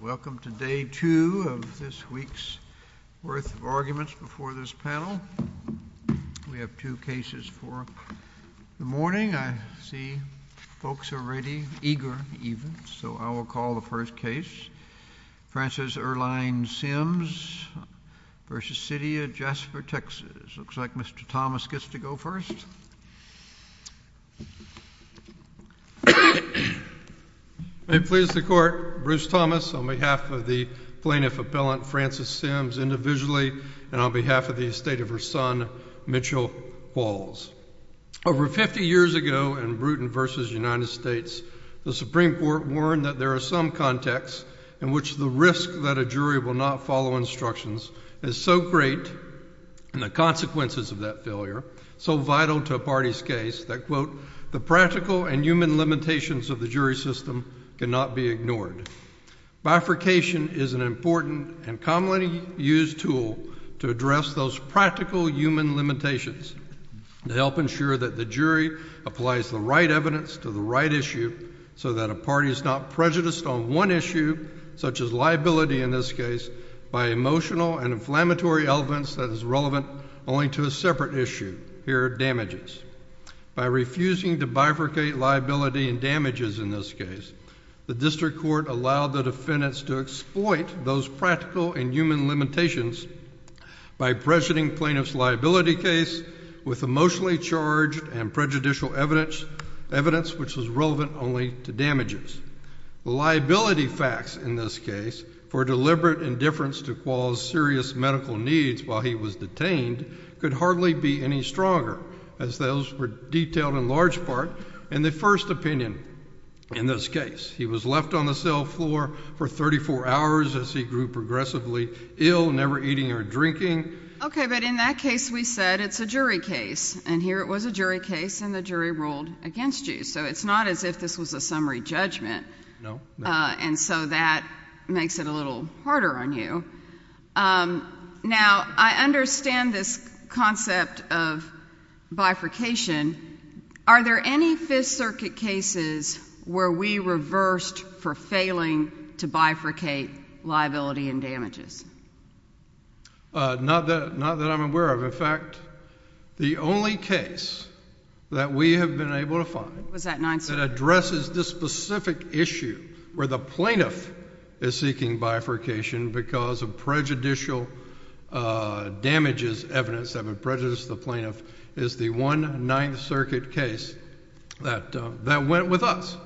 Welcome to day two of this week's worth of arguments before this panel. We have two cases for the morning. I see folks are ready, eager even, so I will call the first case. Francis Erlein Sims v. City of Jasper, Texas. Looks like Mr. Thomas gets to go first. May it please the court, Bruce Thomas on behalf of the plaintiff appellant Francis Sims individually and on behalf of the estate of her son Mitchell Walls. Over 50 years ago in Bruton v. United States, the Supreme Court warned that there are some contexts in which the risk that a jury will not follow instructions is so great and the consequences of that failure so vital to a party's case that, quote, the practical and human limitations of the jury system cannot be ignored. Bifurcation is an important and commonly used tool to address those practical human limitations to help ensure that the jury applies the right evidence to the right issue so that a party is not prejudiced on one issue, such as liability in this case, by emotional and inflammatory elements that is relevant only to a separate issue. Here are damages. By refusing to bifurcate liability and damages in this case, the district court allowed the defendants to exploit those practical and human limitations by pressuring plaintiff's liability case with emotionally charged and prejudicial evidence, evidence which was relevant only to damages. The liability facts in this case for deliberate indifference to cause serious medical needs while he was detained could hardly be any stronger, as those were detailed in large part in the first opinion in this case. He was left on the cell floor for 34 hours as he grew progressively ill, never eating or drinking. Okay, but in that case we said it's a jury case and here it was a jury case and the jury ruled against you, so it's not as if this was a summary judgment and so that makes it a little harder on you. Now, I understand this concept of bifurcation. Are there any Fifth Circuit cases where we reversed for failing to bifurcate liability and damages? Not that I'm aware of. In fact, the only case that we have been able to find that addresses this specific issue where the plaintiff is seeking bifurcation because of prejudicial damages evidence that would prejudice the plaintiff is the one Ninth Circuit case that went with us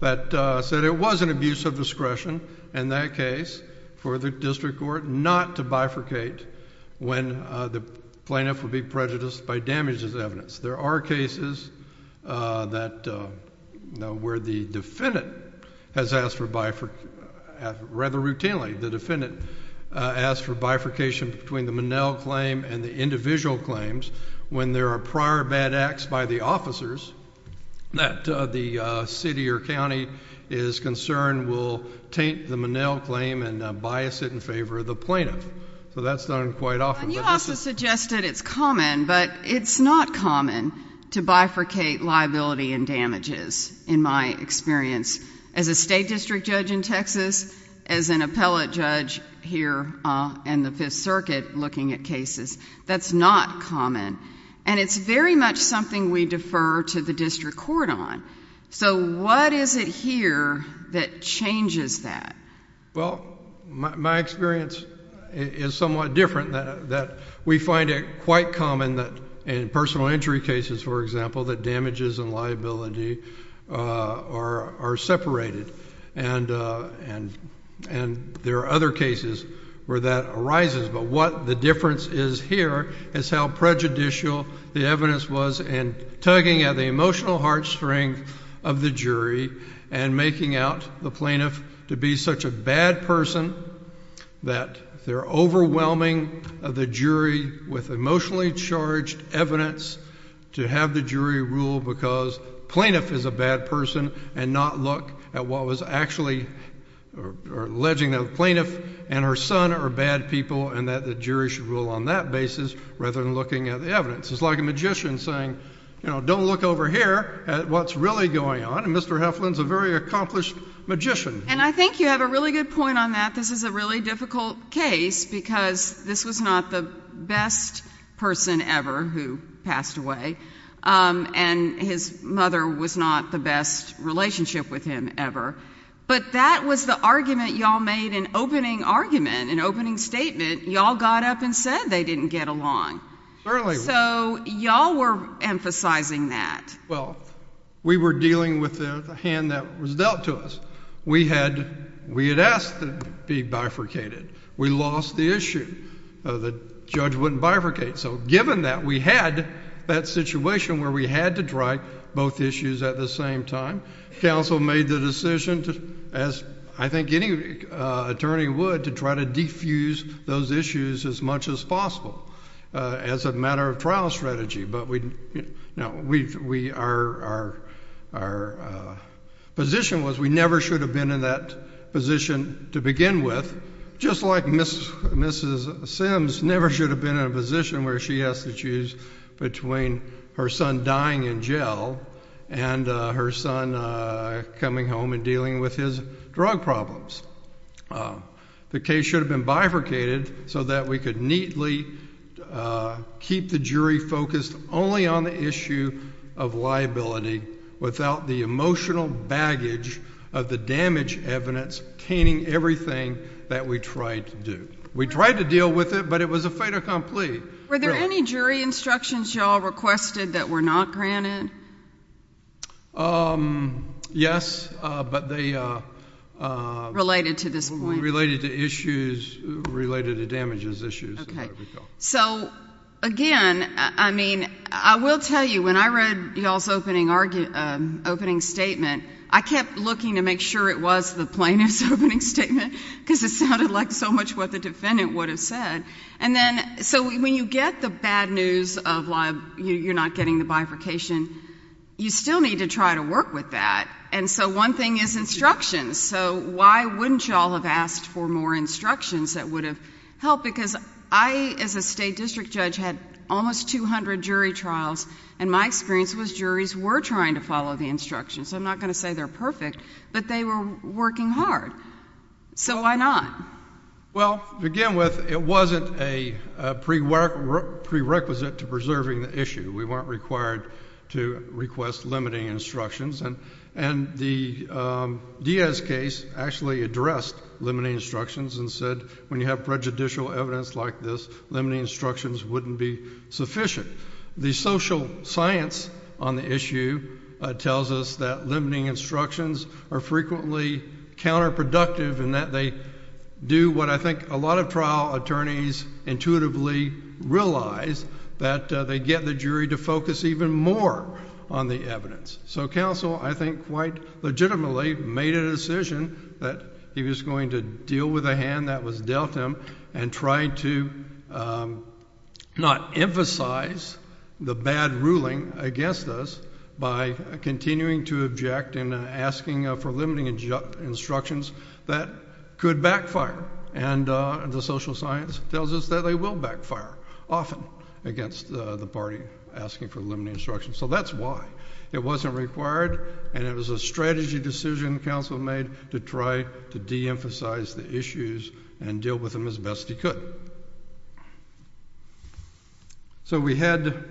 that said it was an abuse of discretion in that case for the district court not to bifurcate when the plaintiff would be prejudiced by damages evidence. There are cases where the defendant has asked for bifurcation, rather routinely the defendant asked for bifurcation between the Monell claim and the individual claims when there are prior bad acts by the officers that the city or county is concerned will taint the Monell claim and bias it in favor of the plaintiff. So that's done quite often. You also suggested it's common, but it's not common to bifurcate liability and damages in my experience as a state district judge in Texas, as an appellate judge here in the Fifth Circuit looking at cases. That's not common and it's very much something we defer to the district court on. So what is it here that changes that? Well, my experience is somewhat different that we find it quite common that in personal injury cases, for example, that damages and liability are separated and there are other cases where that arises, but what the difference is here is how prejudicial the evidence was in tugging at the jury to be such a bad person that they're overwhelming of the jury with emotionally charged evidence to have the jury rule because plaintiff is a bad person and not look at what was actually or alleging that the plaintiff and her son are bad people and that the jury should rule on that basis rather than looking at the evidence. It's like a magician saying, you know, don't look over here at what's really going on. And Mr. Heflin's a very accomplished magician. And I think you have a really good point on that. This is a really difficult case because this was not the best person ever who passed away and his mother was not the best relationship with him ever, but that was the argument y'all made an opening argument, an opening statement. Y'all got up and said they didn't get along. So y'all were emphasizing that. Well, we were not. We had asked to be bifurcated. We lost the issue. The judge wouldn't bifurcate. So given that we had that situation where we had to try both issues at the same time, counsel made the decision as I think any attorney would to try to defuse those issues as much as possible as a matter of trial strategy. But our position was we never should have been in that position to begin with, just like Mrs. Sims never should have been in a position where she has to choose between her son dying in jail and her son coming home and dealing with his drug problems. The case should have been bifurcated so that we could neatly keep the jury focused only on the issue of liability without the emotional baggage of the damage evidence caning everything that we tried to do. We tried to deal with it, but it was a fait accompli. Were there any jury instructions y'all requested that were not granted? Yes, but they Related to this point. Again, I will tell you when I read y'all's opening statement, I kept looking to make sure it was the plaintiff's opening statement because it sounded like so much what the defendant would have said. So when you get the bad news of you're not getting the bifurcation, you still need to try to work with that. So one thing is instructions. So why wouldn't y'all have asked for more instructions that would have helped? Because I, as a state district judge, had almost 200 jury trials and my experience was juries were trying to follow the instructions. I'm not going to say they're perfect, but they were working hard. So why not? Well, to begin with, it wasn't a prerequisite to preserving the issue. We weren't required to request limiting instructions and the Diaz case actually addressed limiting instructions and said when you have prejudicial evidence like this, limiting instructions wouldn't be sufficient. The social science on the issue tells us that limiting instructions are frequently counterproductive in that they do what I think a lot of trial attorneys intuitively realize that they get the jury to focus even more on the that he was going to deal with a hand that was dealt him and tried to not emphasize the bad ruling against us by continuing to object in asking for limiting instructions that could backfire and the social science tells us that they will backfire often against the party asking for limiting instructions. So that's why it wasn't required and it was a strategy decision the counsel made to try to deemphasize the issues and deal with them as best he could. So we had...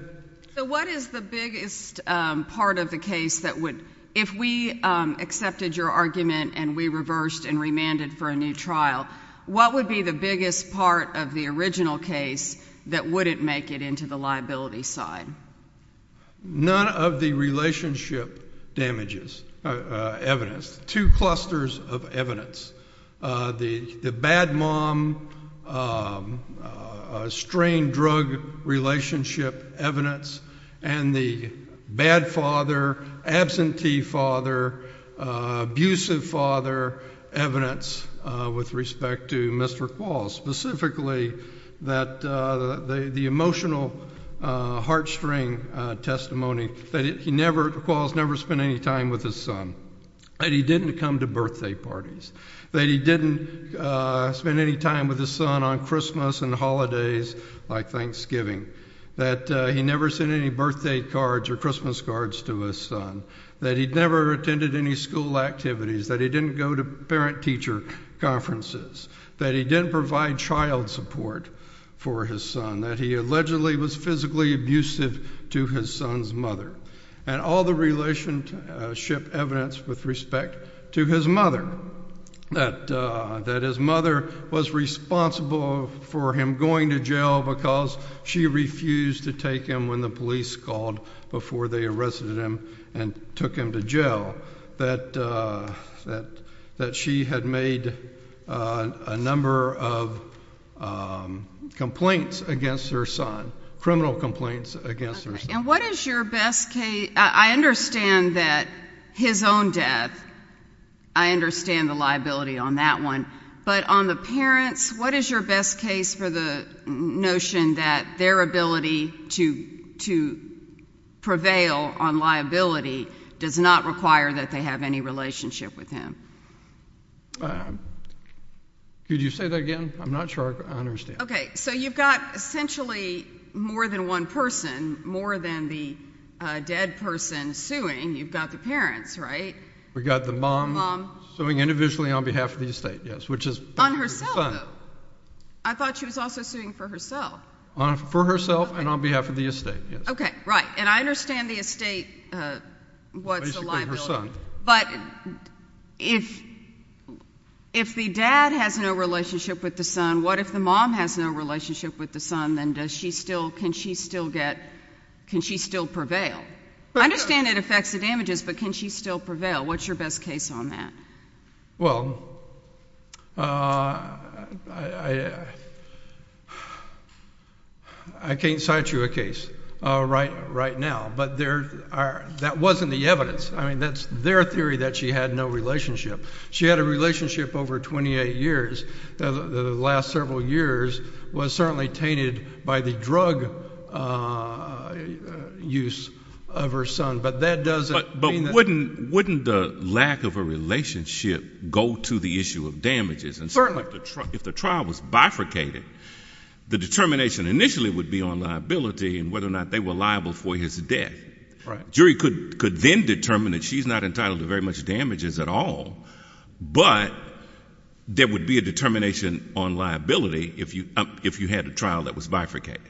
So what is the biggest part of the case that would... if we accepted your argument and we reversed and remanded for a new trial, what would be the biggest part of the original case that wouldn't make it into the liability side? None. None of the relationship damages, evidence. Two clusters of evidence. The bad mom, strained drug relationship evidence and the bad father, absentee father, abusive father evidence with respect to Mr. Quall. Specifically, the emotional heart string testimony that Quall has never spent any time with his son. That he didn't come to birthday parties. That he didn't spend any time with his son on Christmas and holidays like Thanksgiving. That he never sent any birthday cards or Christmas cards to his son. That he never attended any school activities. That he didn't go to parent teacher conferences. That he didn't provide child support for his son. That he allegedly was physically abusive to his son's mother. And all the relationship evidence with respect to his mother. That his mother was responsible for him going to jail because she refused to take him when the had made a number of complaints against her son. Criminal complaints against her son. And what is your best case, I understand that his own death, I understand the liability on that one. But on the parents, what is your best case for the notion that their ability to prevail on liability does not require that they have any relationship with him? Could you say that again? I'm not sure I understand. Okay, so you've got essentially more than one person, more than the dead person suing. You've got the parents, right? We've got the mom suing individually on behalf of the estate, yes. On herself, though. I thought she was also suing for herself. For herself and on behalf of the estate, yes. Okay, right. And I understand the estate, what's the liability. But if the dad has no relationship with the son, what if the mom has no relationship with the son, then can she still prevail? I understand it affects the damages, but can she still prevail? What's your best case on that? Well, I can't cite you a case right now. But that wasn't the evidence. That's their theory that she had no relationship. She had a relationship over 28 years. The last several years was certainly tainted by the drug use of her son. But that doesn't mean that... But wouldn't the lack of a relationship go to the issue of damages? Certainly. And so if the trial was bifurcated, the determination initially would be on liability and whether or not they were liable for his death. Right. The jury could then determine that she's not entitled to very much damages at all. But there would be a determination on liability if you had a trial that was bifurcated.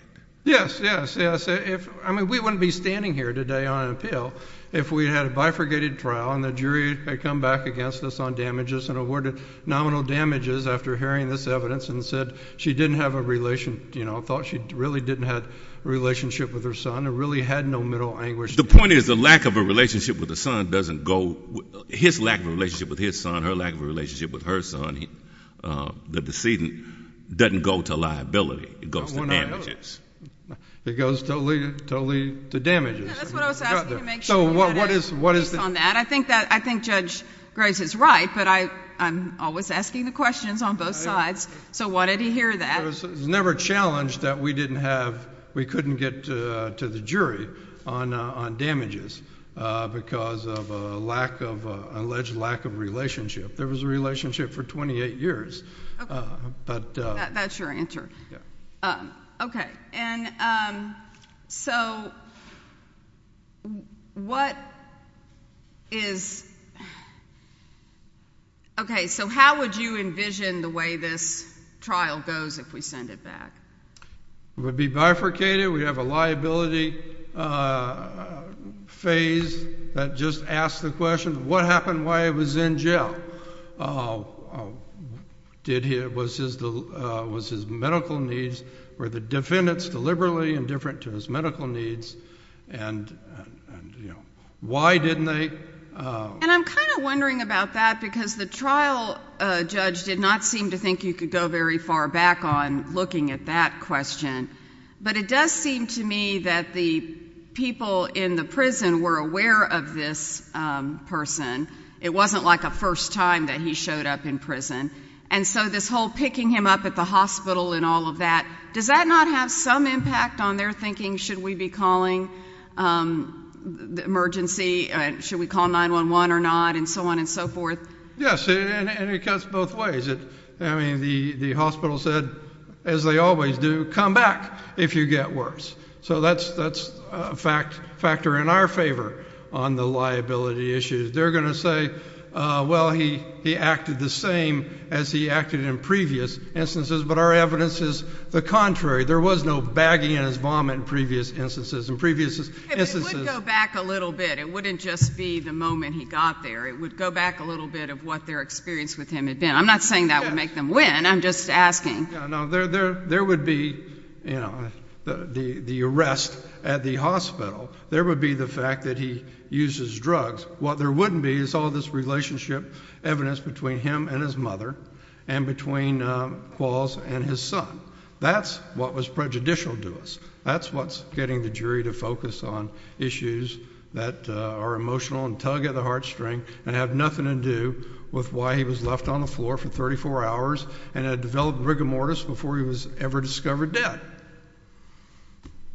Yes, yes. I mean, we wouldn't be standing here today on an appeal if we had a bifurcated trial and the jury had come back against us on damages and awarded nominal damages after hearing this evidence and said she didn't have a relation, thought she really didn't have a relationship with her son, or really had no middle anguish. The point is the lack of a relationship with the son doesn't go... his lack of a relationship with his son, her lack of a relationship with her son, the decedent, doesn't go to liability. It goes to damages. It goes totally to damages. That's what I was asking to make sure we had a piece on that. I think Judge Graves is right, but I'm always asking the questions on both sides. So why did he hear that? It was never challenged that we didn't have... we couldn't get to the bottom of damages because of a lack of... an alleged lack of relationship. There was a relationship for 28 years, but... That's your answer. Yes. Okay. And so what is... okay, so how would you envision the way this trial goes if we send it back? It would be bifurcated. We'd have a liability phase that just asks the question, what happened while he was in jail? Did he... was his medical needs... were the defendants deliberately indifferent to his medical needs and, you know, why didn't they... And I'm kind of wondering about that because the trial judge did not seem to think you could go very far back on looking at that question, but it does seem to me that the people in the prison were aware of this person. It wasn't like a first time that he showed up in prison. And so this whole picking him up at the hospital and all of that, does that not have some impact on their thinking, should we be calling the emergency... should we call 911 or not and so on and so forth? Yes, and it cuts both ways. I mean, the hospital said, as they always do, come back if you get worse. So that's a factor in our favor on the liability issues. They're going to say, well, he acted the same as he acted in previous instances, but our evidence is the contrary. There was no bagging in his vomit in previous instances. In previous instances... If it would go back a little bit, it wouldn't just be the moment he got there. It would go back a little bit of what their experience with him had been. I'm not saying that would make them win. I'm just asking. No, there would be the arrest at the hospital. There would be the fact that he uses drugs. What there wouldn't be is all this relationship evidence between him and his mother and between Qualls and his son. That's what was prejudicial to us. That's what's getting the jury to focus on issues that are heart-stricken and have nothing to do with why he was left on the floor for thirty-four hours and had developed rigor mortis before he was ever discovered dead.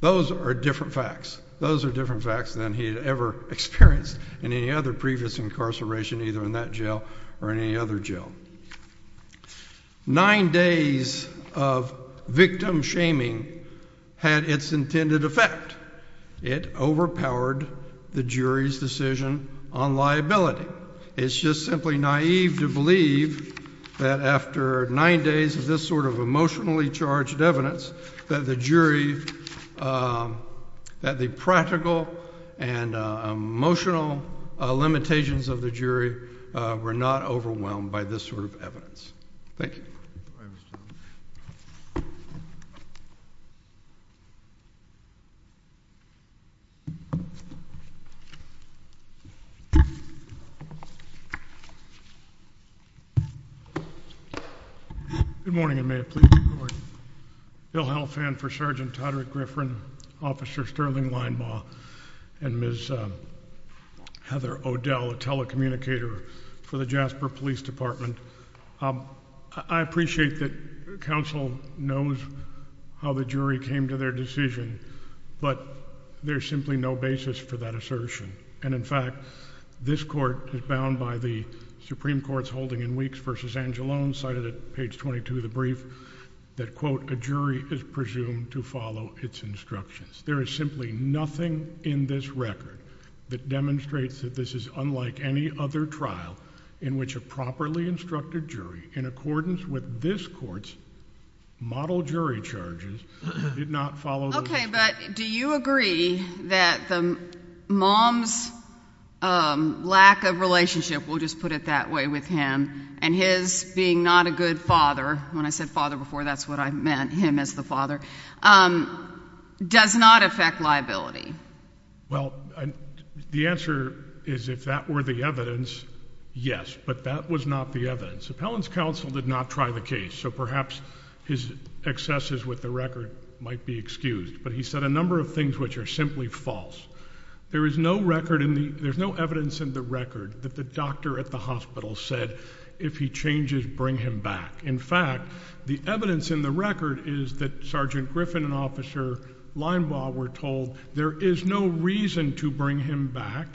Those are different facts. Those are different facts than he had ever experienced in any other previous incarceration, either in that jail or in any other jail. Nine days of victim shaming had its intended effect. It overpowered the liability. It's just simply naive to believe that after nine days of this sort of emotionally charged evidence that the jury, that the practical and emotional limitations of the jury were not overwhelmed by this sort of judgment. Good morning, and may it please the Court. Bill Helfand for Sgt. Todrick Griffin, Officer Sterling Leinbaugh, and Ms. Heather O'Dell, a telecommunicator for the Jasper Police Department. I appreciate that counsel knows how the jury came to their decision, but there's simply no basis for that assertion. And in fact, this Court is bound by the Supreme Court's holding in Weeks v. Angelone, cited at page 22 of the brief, that, quote, a jury is presumed to follow its instructions. There is simply nothing in this record that demonstrates that this is unlike any other trial in which a properly instructed jury, in accordance with this Court's model jury charges, did not follow those instructions. Okay, but do you agree that the mom's lack of relationship, we'll just put it that way with him, and his being not a good father, when I said father before that's what I meant, him as the father, does not affect liability? Well, the answer is if that were the evidence, yes, but that was not the evidence. Appellant's counsel did not try the case, so perhaps his excesses with the record might be excused, but he said a number of things which are simply false. There is no record in the, there's no evidence in the record that the doctor at the hospital said, if he changes, bring him back. In fact, the evidence in the record is that Sergeant Griffin and Officer Leinbaugh were told there is no reason to bring him back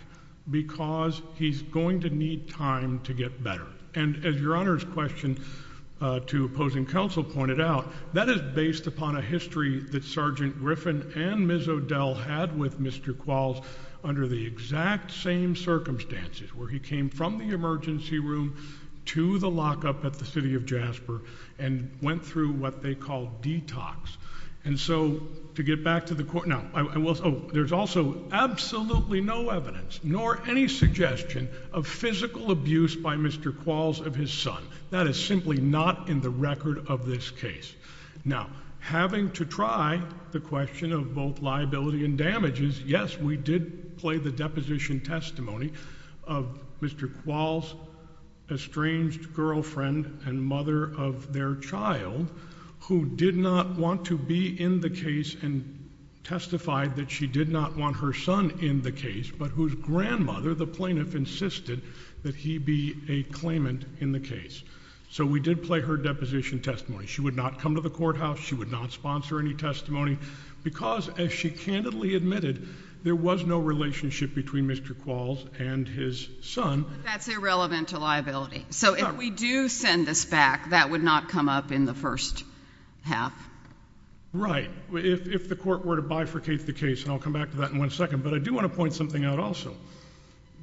because he's going to need time to get better. And as Your Honor's question to opposing counsel pointed out, that is based upon a history that Sergeant Griffin and Ms. O'Dell had with Mr. Qualls under the exact same circumstances, where he came from the emergency room to the lockup at the City of Jasper and went through what they called detox. And so, to get back to the court, now, I will, oh, there's also absolutely no evidence, nor any suggestion of physical abuse by Mr. Qualls of his son. That is simply not in the record of this case. Now, having to try the question of both liability and damages, yes, we did play the deposition testimony of Mr. Qualls' estranged girlfriend and mother of their child, who did not want to be in the case and testified that she did not want her son in the case, but whose grandmother, the plaintiff, insisted that he be a claimant in the case. So, we did play her deposition testimony. She would not come to the courthouse. She would not sponsor any testimony, because as she candidly admitted, there was no relationship between Mr. Qualls and his son. But that's irrelevant to liability. So, if we do send this back, that would not come up in the first half? Right. If the court were to bifurcate the case, and I'll come back to that in one second, but I do want to point something out also.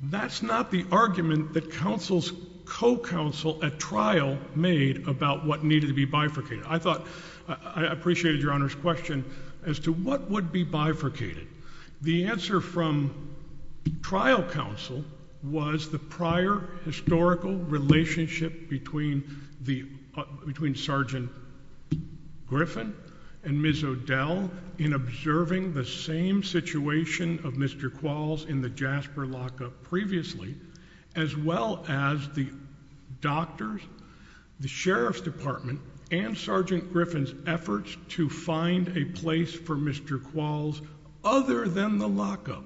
That's not the counsel's co-counsel at trial made about what needed to be bifurcated. I thought, I appreciated Your Honor's question as to what would be bifurcated. The answer from trial counsel was the prior historical relationship between Sergeant Griffin and Ms. O'Dell in observing the same situation of Mr. Qualls and her lockup previously, as well as the doctor's, the sheriff's department, and Sergeant Griffin's efforts to find a place for Mr. Qualls other than the lockup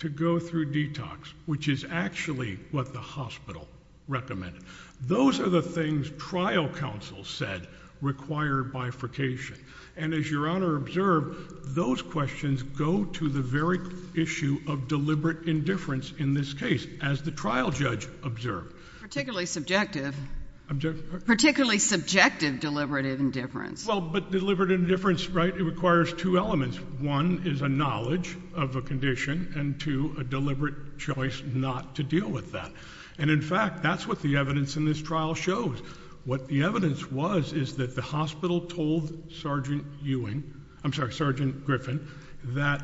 to go through detox, which is actually what the hospital recommended. Those are the things trial counsel said required bifurcation. And as Your Honor observed, those questions go to the very issue of deliberate indifference in this case, as the trial judge observed. Particularly subjective. Particularly subjective deliberative indifference. Well, but deliberative indifference, right, it requires two elements. One is a knowledge of a condition, and two, a deliberate choice not to deal with that. And in fact, that's what the evidence in this trial shows. What the evidence was is that the hospital told Sergeant Ewing, I'm sorry, Sergeant Griffin, that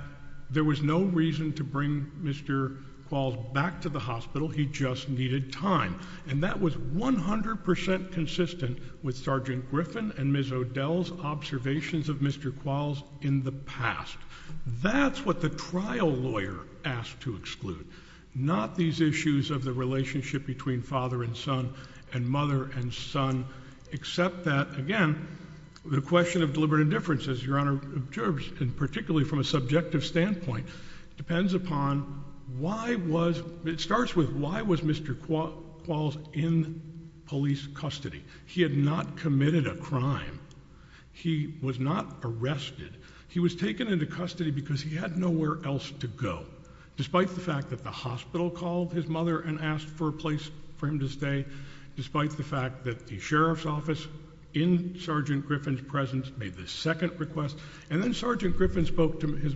there was no reason to bring Mr. Qualls back to the hospital. He just needed time. And that was 100% consistent with Sergeant Griffin and Ms. O'Dell's observations of Mr. Qualls in the past. That's what the trial lawyer asked to exclude. Not these issues of the relationship between father and son and mother and son, except that, again, the question of and particularly from a subjective standpoint, depends upon why was, it starts with, why was Mr. Qualls in police custody? He had not committed a crime. He was not arrested. He was taken into custody because he had nowhere else to go. Despite the fact that the hospital called his mother and asked for a place for him to stay. Despite the fact that the sheriff's office in Sergeant Griffin's presence made the second request. And then Sergeant Griffin spoke to his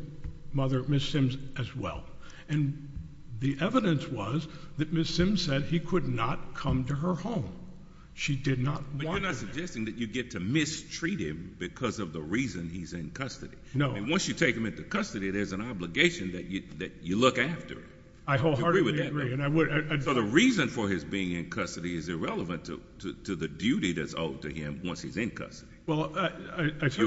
mother, Ms. Simms, as well. And the evidence was that Ms. Simms said he could not come to her home. She did not want. But you're not suggesting that you get to mistreat him because of the reason he's in custody? No. And once you take him into custody, there's an obligation that you look after. I wholeheartedly agree. And I would. So the reason for his being in custody? Well, I certainly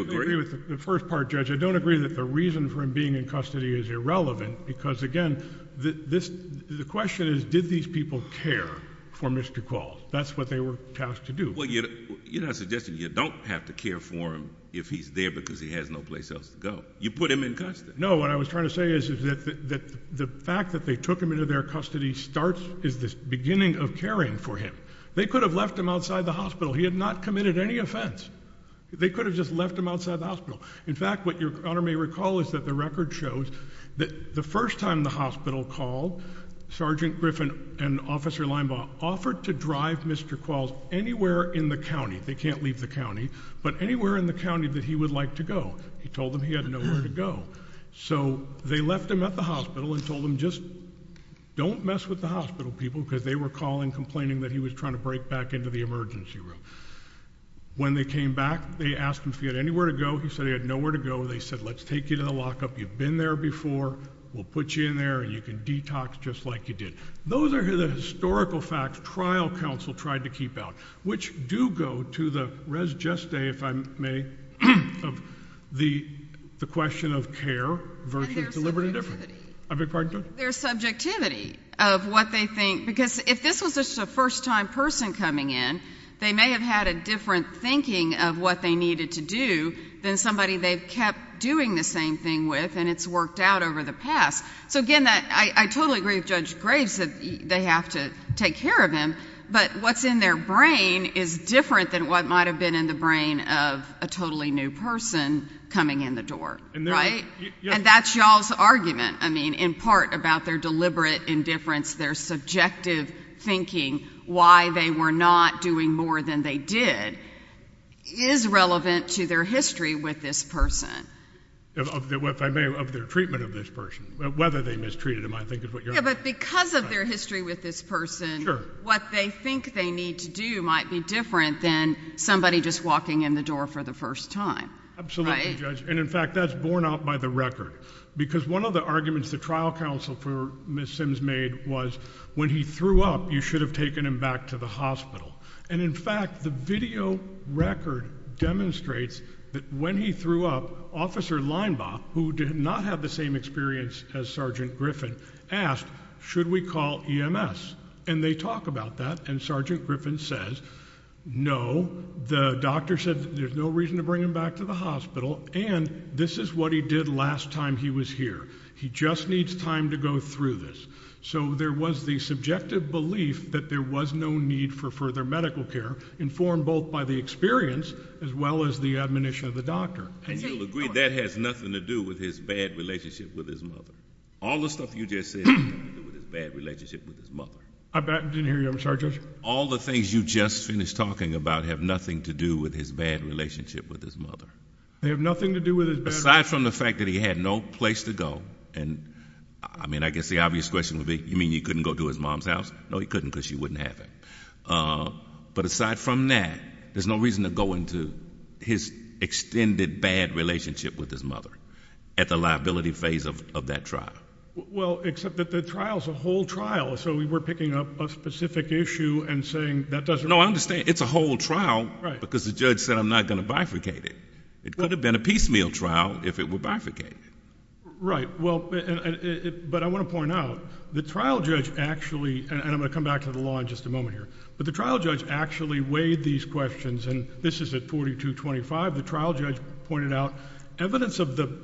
agree with the first part, Judge. I don't agree that the reason for him being in custody is irrelevant. Because again, this, the question is, did these people care for Mr. Qualls? That's what they were tasked to do. Well, you're not suggesting you don't have to care for him if he's there because he has no place else to go. You put him in custody. No, what I was trying to say is that the fact that they took him into their custody starts, is this beginning of caring for him. They could have left him outside the hospital. He had not committed any offense. They could have just left him outside the hospital. In fact, what your honor may recall is that the record shows that the first time the hospital called Sergeant Griffin and Officer Limbaugh offered to drive Mr. Qualls anywhere in the county. They can't leave the county, but anywhere in the county that he would like to go. He told them he had nowhere to go. So they left him at the hospital and told him just don't mess with the hospital people because they were calling complaining that he was trying to break back into the emergency room. When they came back, they asked him if he had anywhere to go. He said he had nowhere to go. They said, let's take you to the lockup. You've been there before. We'll put you in there and you can detox just like you did. Those are the historical facts trial counsel tried to keep out, which do go to the res geste, if I may, of the the question of care versus deliberate indifference. I beg your pardon, Judge? Their subjectivity of what they think, because if this was just a first time person coming in, they may have had a different thinking of what they needed to do than somebody they've kept doing the same thing with, and it's worked out over the past. So again, that I totally agree with Judge Graves that they have to take care of him. But what's in their brain is different than what might have been in the brain of a totally new person coming in the door, right? And that's y'all's argument. I mean, in part about their deliberate indifference, their subjective thinking, why they were not doing more than they did is relevant to their history with this person. If I may, of their treatment of this person, whether they mistreated him, I think is what you're. But because of their history with this person, what they think they need to do might be different than somebody just walking in the door for the first time. Absolutely, Judge. And in fact, that's borne out by the record. Because one of the arguments the trial counsel for Ms. Sims made was when he threw up, you should have taken him back to the hospital. And in fact, the video record demonstrates that when he threw up, Officer Leinbach, who did not have the same experience as Sergeant Griffin, asked, should we call EMS? And they talk about that. And Sergeant Griffin says, no. The doctor said there's no reason to bring him back to the hospital. And this is what he did last time he was here. He just needs time to go through this. So there was the subjective belief that there was no need for further medical care, informed both by the experience as well as the admonition of the doctor. And you'll agree that has nothing to do with his bad relationship with his mother. All the stuff you just said, bad relationship with his mother. I didn't hear you. I'm sorry, Judge. All the things you just finished talking about have nothing to do with his bad relationship with his mother. They have nothing to do with it. Aside from the fact that he had no place to go. And I mean, I guess the obvious question would be, you mean you couldn't go to his mom's house? No, he couldn't because she wouldn't have it. Uh, but aside from that, there's no reason to go into his extended bad relationship with his mother at the liability phase of that trial. Well, except that the trial is a whole trial. So we were picking up a specific issue and saying that doesn't understand. It's a whole trial because the judge said I'm not going to bifurcate it. It could have been a piecemeal trial if it were bifurcated. Right. Well, but I want to point out the trial judge actually, and I'm gonna come back to the law in just a moment here, but the trial judge actually weighed these questions and this is a 42 25. The trial judge pointed out evidence of the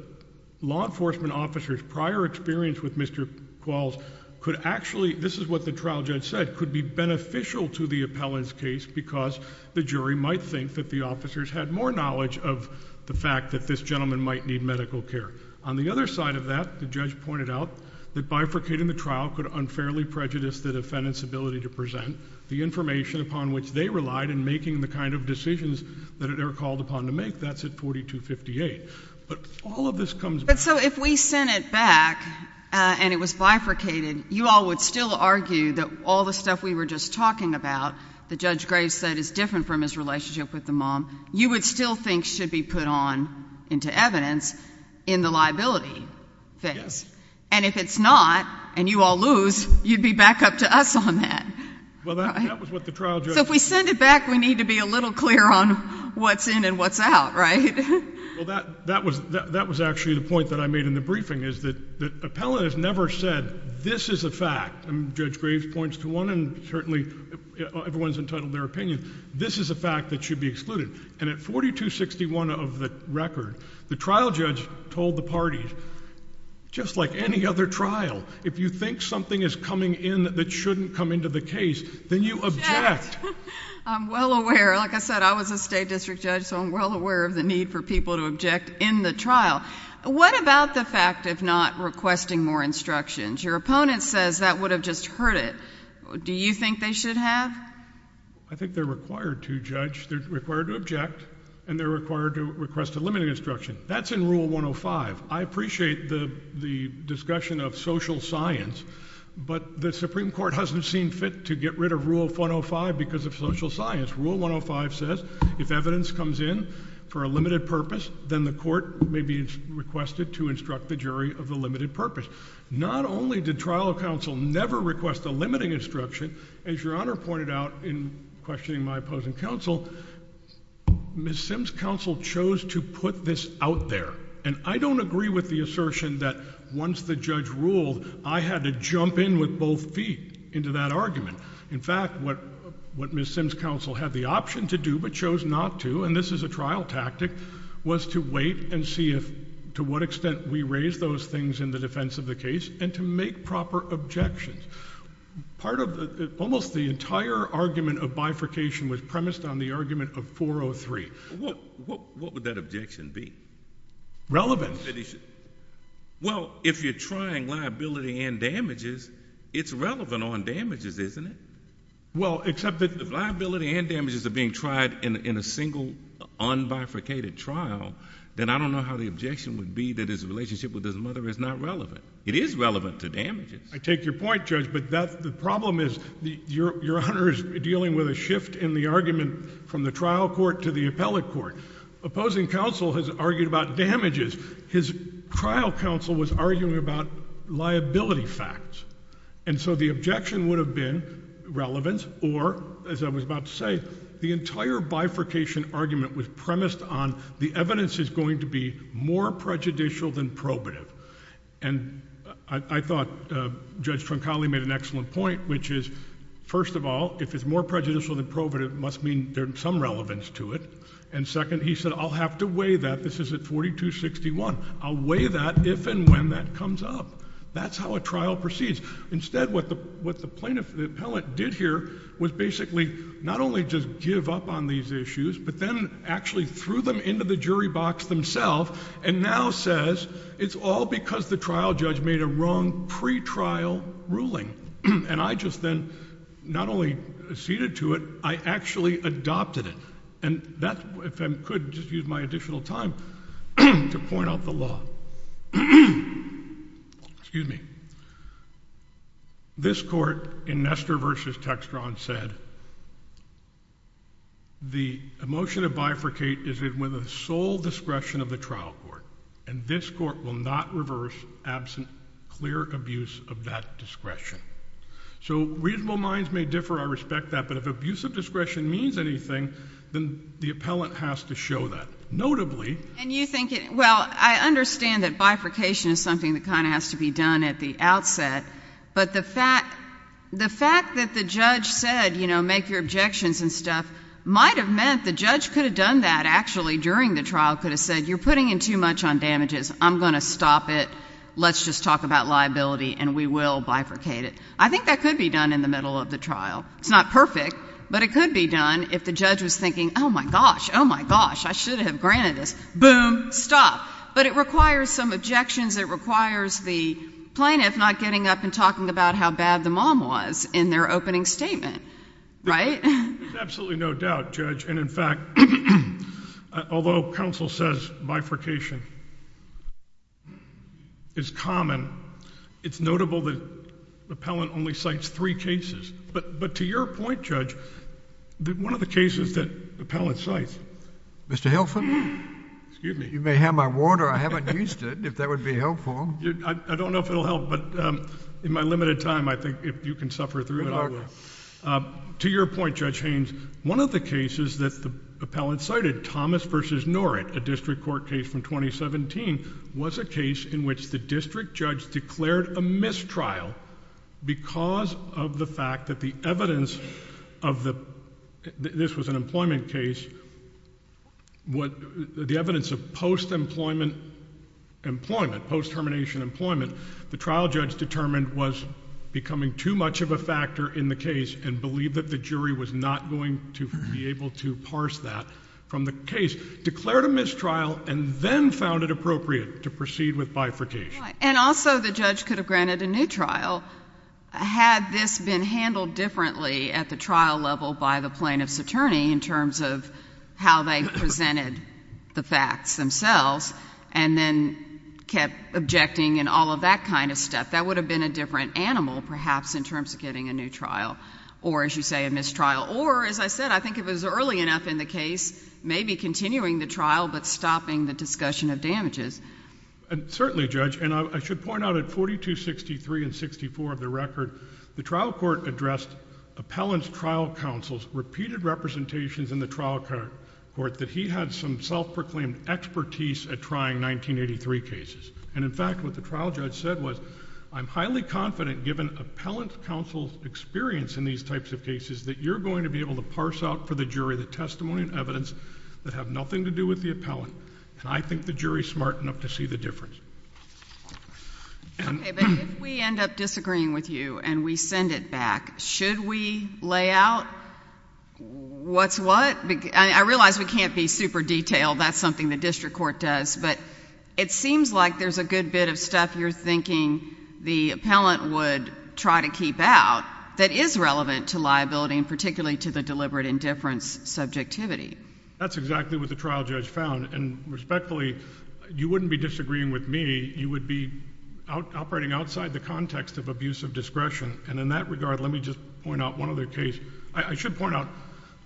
law enforcement officers prior experience with Mr Qualls could actually this is what the trial judge said could be beneficial to the appellant's case because the jury might think that the officers had more knowledge of the fact that this gentleman might need medical care. On the other side of that, the judge pointed out that bifurcating the trial could unfairly prejudice the defendant's ability to present the information upon which they relied in making the kind of decisions that are called upon to make. That's at 42 58. But all of this comes. So if we sent it back on, it was bifurcated. You all would still argue that all the stuff we were just talking about the judge Graves said is different from his relationship with the mom. You would still think should be put on into evidence in the liability face. And if it's not and you all lose, you'd be back up to us on that. Well, that was what the trial judge. If we send it back, we need to be a little clear on what's in and what's out, right? Well, that that was that was actually the point that I made in the briefing is that the appellant has never said this is a fact. Judge Graves points to one and certainly everyone's entitled their opinion. This is a fact that should be excluded. And at 42 61 of the record, the trial judge told the party just like any other trial. If you think something is coming in that shouldn't come into the case, then you object. I'm well aware. Like I said, I was a state district judge, so I'm well aware of the need for people to object in the trial. What about the fact of not requesting more instructions? Your opponent says that would have just hurt it. Do you think they should have? I think they're required to judge their required to object, and they're required to request a limiting instruction. That's in rule 105. I appreciate the discussion of social science, but the Supreme Court hasn't seen fit to get rid of rule 105 because of social science. Rule 105 says if evidence comes in for a limited purpose, then the court may be requested to instruct the jury of the limited purpose. Not only did trial counsel never request a limiting instruction, as your honor pointed out in questioning my opposing counsel, Miss Sims Council chose to put this out there, and I don't agree with the assertion that once the judge ruled, I had to jump in with both feet into that argument. In fact, what what Miss Sims Council had the option to do but chose not to, and this is a trial tactic, was to wait and see if to what extent we could raise those things in the defense of the case and to make proper objections. Almost the entire argument of bifurcation was premised on the argument of 403. What would that objection be? Relevance. Well, if you're trying liability and damages, it's relevant on damages, isn't it? Well, except that if liability and damages are being tried in a single unbifurcated trial, then I don't know how the objection would be that his relationship with his mother is not relevant. It is relevant to damages. I take your point, Judge, but that the problem is your honor is dealing with a shift in the argument from the trial court to the appellate court. Opposing counsel has argued about damages. His trial counsel was arguing about liability facts, and so the objection would have been relevance or, as I was about to say, the evidence is going to be more prejudicial than probative. And I thought Judge Troncali made an excellent point, which is, first of all, if it's more prejudicial than probative, it must mean there's some relevance to it. And second, he said, I'll have to weigh that. This is at 4261. I'll weigh that if and when that comes up. That's how a trial proceeds. Instead, what the plaintiff, the appellate did here was basically not only just give up on these two cases, but he gave the jury box themself and now says it's all because the trial judge made a wrong pre-trial ruling. And I just then not only acceded to it, I actually adopted it. And that, if I could, just use my additional time to point out the law. Excuse me. This court in Nestor v. Textron said, the motion to bifurcate is with a sole discretion of the trial court. And this court will not reverse absent clear abuse of that discretion. So reasonable minds may differ. I respect that. But if abuse of discretion means anything, then the appellant has to show that. Notably... And you think, well, I understand that bifurcation is something that kind of has to be done at the outset. But the fact that the judge said, you know, make your objections and stuff might have meant the judge could have done that actually during the trial, could have said you're putting in too much on damages. I'm going to stop it. Let's just talk about liability and we will bifurcate it. I think that could be done in the middle of the trial. It's not perfect, but it could be done if the judge was thinking, oh, my gosh, oh, my gosh, I should have granted this. Boom. Stop. But it requires some understanding of how bad the mom was in their opening statement. Right? Absolutely no doubt, Judge. And in fact, although counsel says bifurcation is common, it's notable that the appellant only cites three cases. But to your point, Judge, one of the cases that the appellant cites... Mr. Hilferman? Excuse me. You may have my water. I haven't used it, if that would be helpful. I don't know if it will help, but in my limited time, I think if you can suffer through it, I will. To your point, Judge Haynes, one of the cases that the appellant cited, Thomas v. Norrit, a district court case from 2017, was a case in which the district judge declared a mistrial because of the fact that the evidence of the... this was an employment case. The evidence of post-employment post-termination employment. The trial judge determined was becoming too much of a factor in the case and believed that the jury was not going to be able to parse that from the case. Declared a mistrial and then found it appropriate to proceed with bifurcation. And also the judge could have granted a new trial had this been handled differently at the trial level by the plaintiff's attorney in terms of how they kept objecting and all of that kind of stuff. That would have been a different animal, perhaps, in terms of getting a new trial. Or, as you say, a mistrial. Or, as I said, I think if it was early enough in the case, maybe continuing the trial but stopping the discussion of damages. Certainly, Judge. And I should point out at 4263 and 64 of the record, the trial court addressed appellant's trial counsel's repeated representations in the trial court that he had some self-proclaimed expertise at trying 1983 cases. And, in fact, what the trial judge said was, I'm highly confident, given appellant's counsel's experience in these types of cases, that you're going to be able to parse out for the jury the testimony and evidence that have nothing to do with the appellant. And I think the jury's smart enough to see the difference. Okay. But if we end up disagreeing with you and we send it back, should we lay out what's what? I realize we can't be super detailed. That's something the district court does. But it seems like there's a good bit of stuff you're thinking the appellant would try to keep out that is relevant to liability, and particularly to the deliberate indifference subjectivity. That's exactly what the trial judge found. And respectfully, you wouldn't be disagreeing with me. You would be operating outside the context of abuse of discretion. And in that regard, let me just point out one other case. I should point out,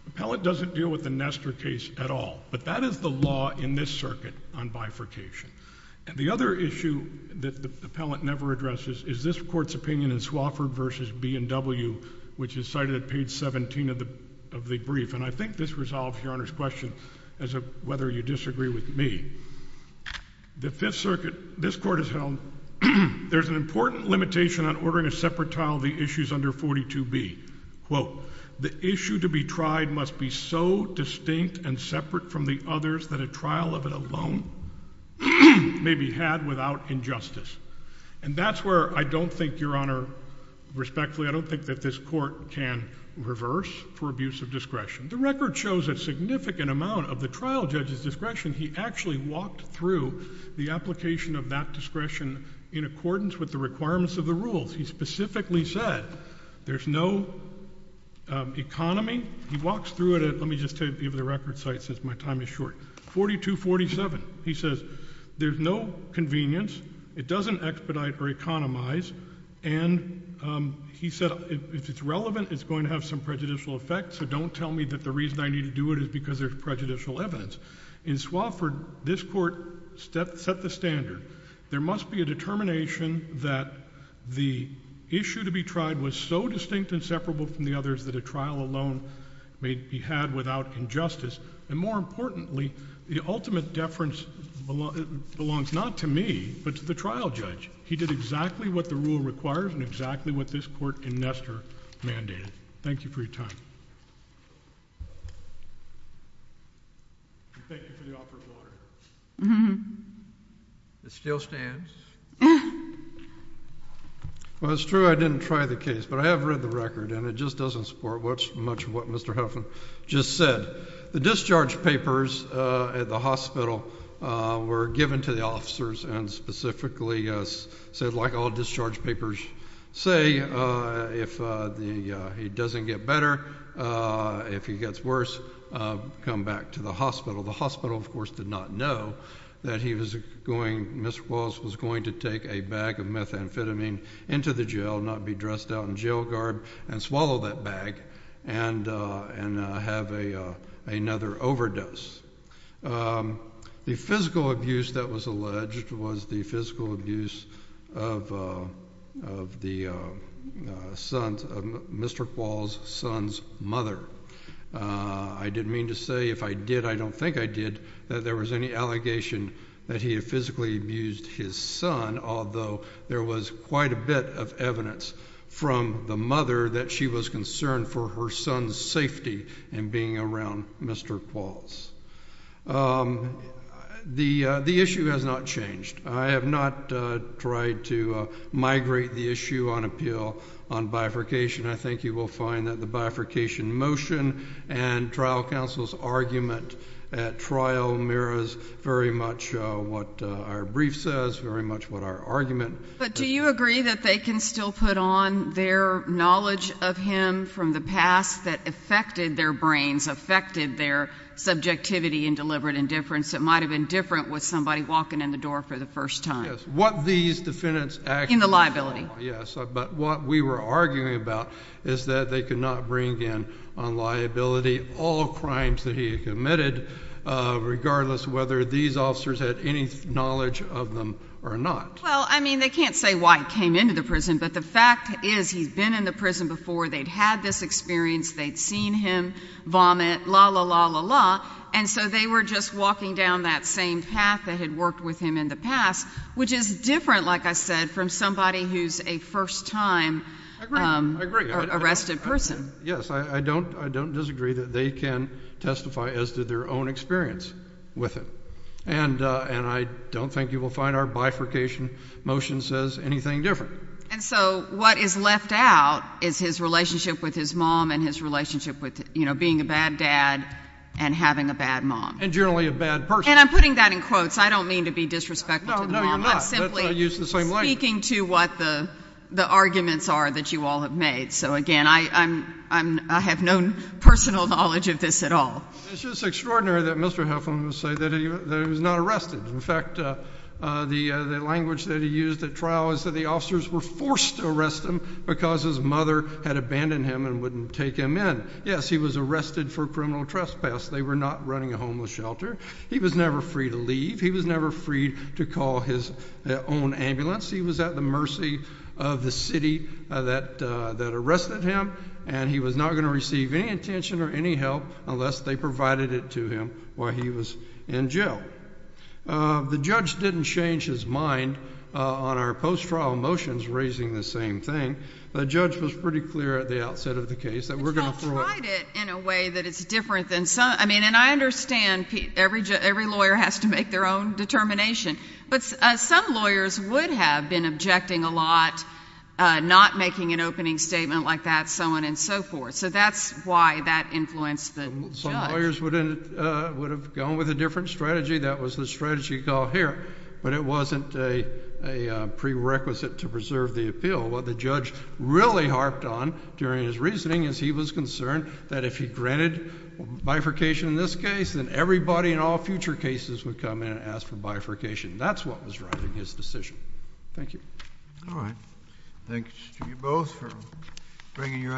appellant doesn't deal with the Nestor case at all. But that is the law in this circuit on bifurcation. And the other issue that the appellant never addresses is this court's opinion in Swofford v. B&W, which is cited at page 17 of the brief. And I think this resolves Your Honor's question as to whether you disagree with me. The Fifth Circuit, this court has held there's an important limitation on ordering a separate trial of the issues under 42B. Quote, the issue to be tried must be so distinct and separate from the others that a trial of it alone may be had without injustice. And that's where I don't think, Your Honor, respectfully, I don't think that this court can reverse for abuse of discretion. The record shows a significant amount of the trial judge's discretion. He actually walked through the application of that discretion in accordance with the requirements of the rules. He specifically said there's no economy. He walks through it at, let me just take a look at the record site since my time is short, 4247. He says there's no convenience. It doesn't expedite or economize. And he said if it's relevant, it's going to have some prejudicial effect. So don't tell me that the reason I need to do it is because there's prejudicial evidence. In Swofford, this court set the standard. There must be a determination that the issue to be tried was so distinct and separable from the others. And more importantly, the ultimate deference belongs not to me, but to the trial judge. He did exactly what the rule requires and exactly what this court in Nestor mandated. Thank you for your time. Thank you for the offer of water. It still stands. Well, it's true I didn't try the case, but I have read the record and it just doesn't support much of what Mr. Huffman just said. The discharge papers at the hospital were given to the officers and specifically said, like all discharge papers say, if he doesn't get better, if he gets worse, come back to the hospital. The hospital, of course, did not know that he was going, Mr. Wallace was going to take a bag of methamphetamine into the jail, not be dressed out in a bag, and have another overdose. The physical abuse that was alleged was the physical abuse of Mr. Quall's son's mother. I didn't mean to say if I did, I don't think I did, that there was any allegation that he had physically abused his son, although there was quite a bit of evidence from the mother that she was concerned for her son's safety in being around Mr. Qualls. The issue has not changed. I have not tried to migrate the issue on appeal on bifurcation. I think you will find that the bifurcation motion and trial counsel's argument at trial mirrors very much what our brief says, very much what our argument. But do you agree that they can still put on their knowledge of him from the past that affected their brains, affected their subjectivity and deliberate indifference that might have been different with somebody walking in the door for the first time? Yes. What these defendants... In the liability. Yes, but what we were arguing about is that they could not bring in on liability all crimes that he had committed, regardless whether these officers had any knowledge of them or not. Well, I mean, they can't say why he came into the prison, but the fact is he's been in the prison before, they'd had this experience, they'd seen him vomit, la la la la la, and so they were just walking down that same path that had worked with him in the past, which is different, like I said, from somebody who's a first-time arrested person. Yes, I don't disagree that they can testify as to their own experience with it, and I don't think you will find our bifurcation motion says anything different. And so what is left out is his relationship with his mom and his relationship with, you know, being a bad dad and having a bad mom. And generally a bad person. And I'm putting that in quotes, I don't mean to be disrespectful to the mom, I'm simply speaking to what the arguments are that you all have made. So again, I have no personal knowledge of this at all. It's just extraordinary that Mr. Heflin would say that he was not arrested. In fact, the language that he used at trial is that the officers were forced to arrest him because his mother had abandoned him and wouldn't take him in. Yes, he was arrested for criminal trespass. They were not running a homeless shelter. He was never free to leave. He was never free to call his own ambulance. He was at the mercy of the city that arrested him, and he was not going to receive any attention or any help unless they put him in jail. The judge didn't change his mind on our post-trial motions raising the same thing. The judge was pretty clear at the outset of the case that we're going to throw it. He tried it in a way that it's different than some, I mean, and I understand every lawyer has to make their own determination, but some lawyers would have been objecting a lot, not making an opening statement like that, so on and so forth. So that's why that influenced the judge. Some lawyers would have gone with a different strategy. That was the strategy called here, but it wasn't a prerequisite to preserve the appeal. What the judge really harped on during his reasoning is he was concerned that if he granted bifurcation in this case, then everybody in all future cases would come in and ask for bifurcation. That's what was driving his decision. Thank you. All right. Thanks to you both for bringing your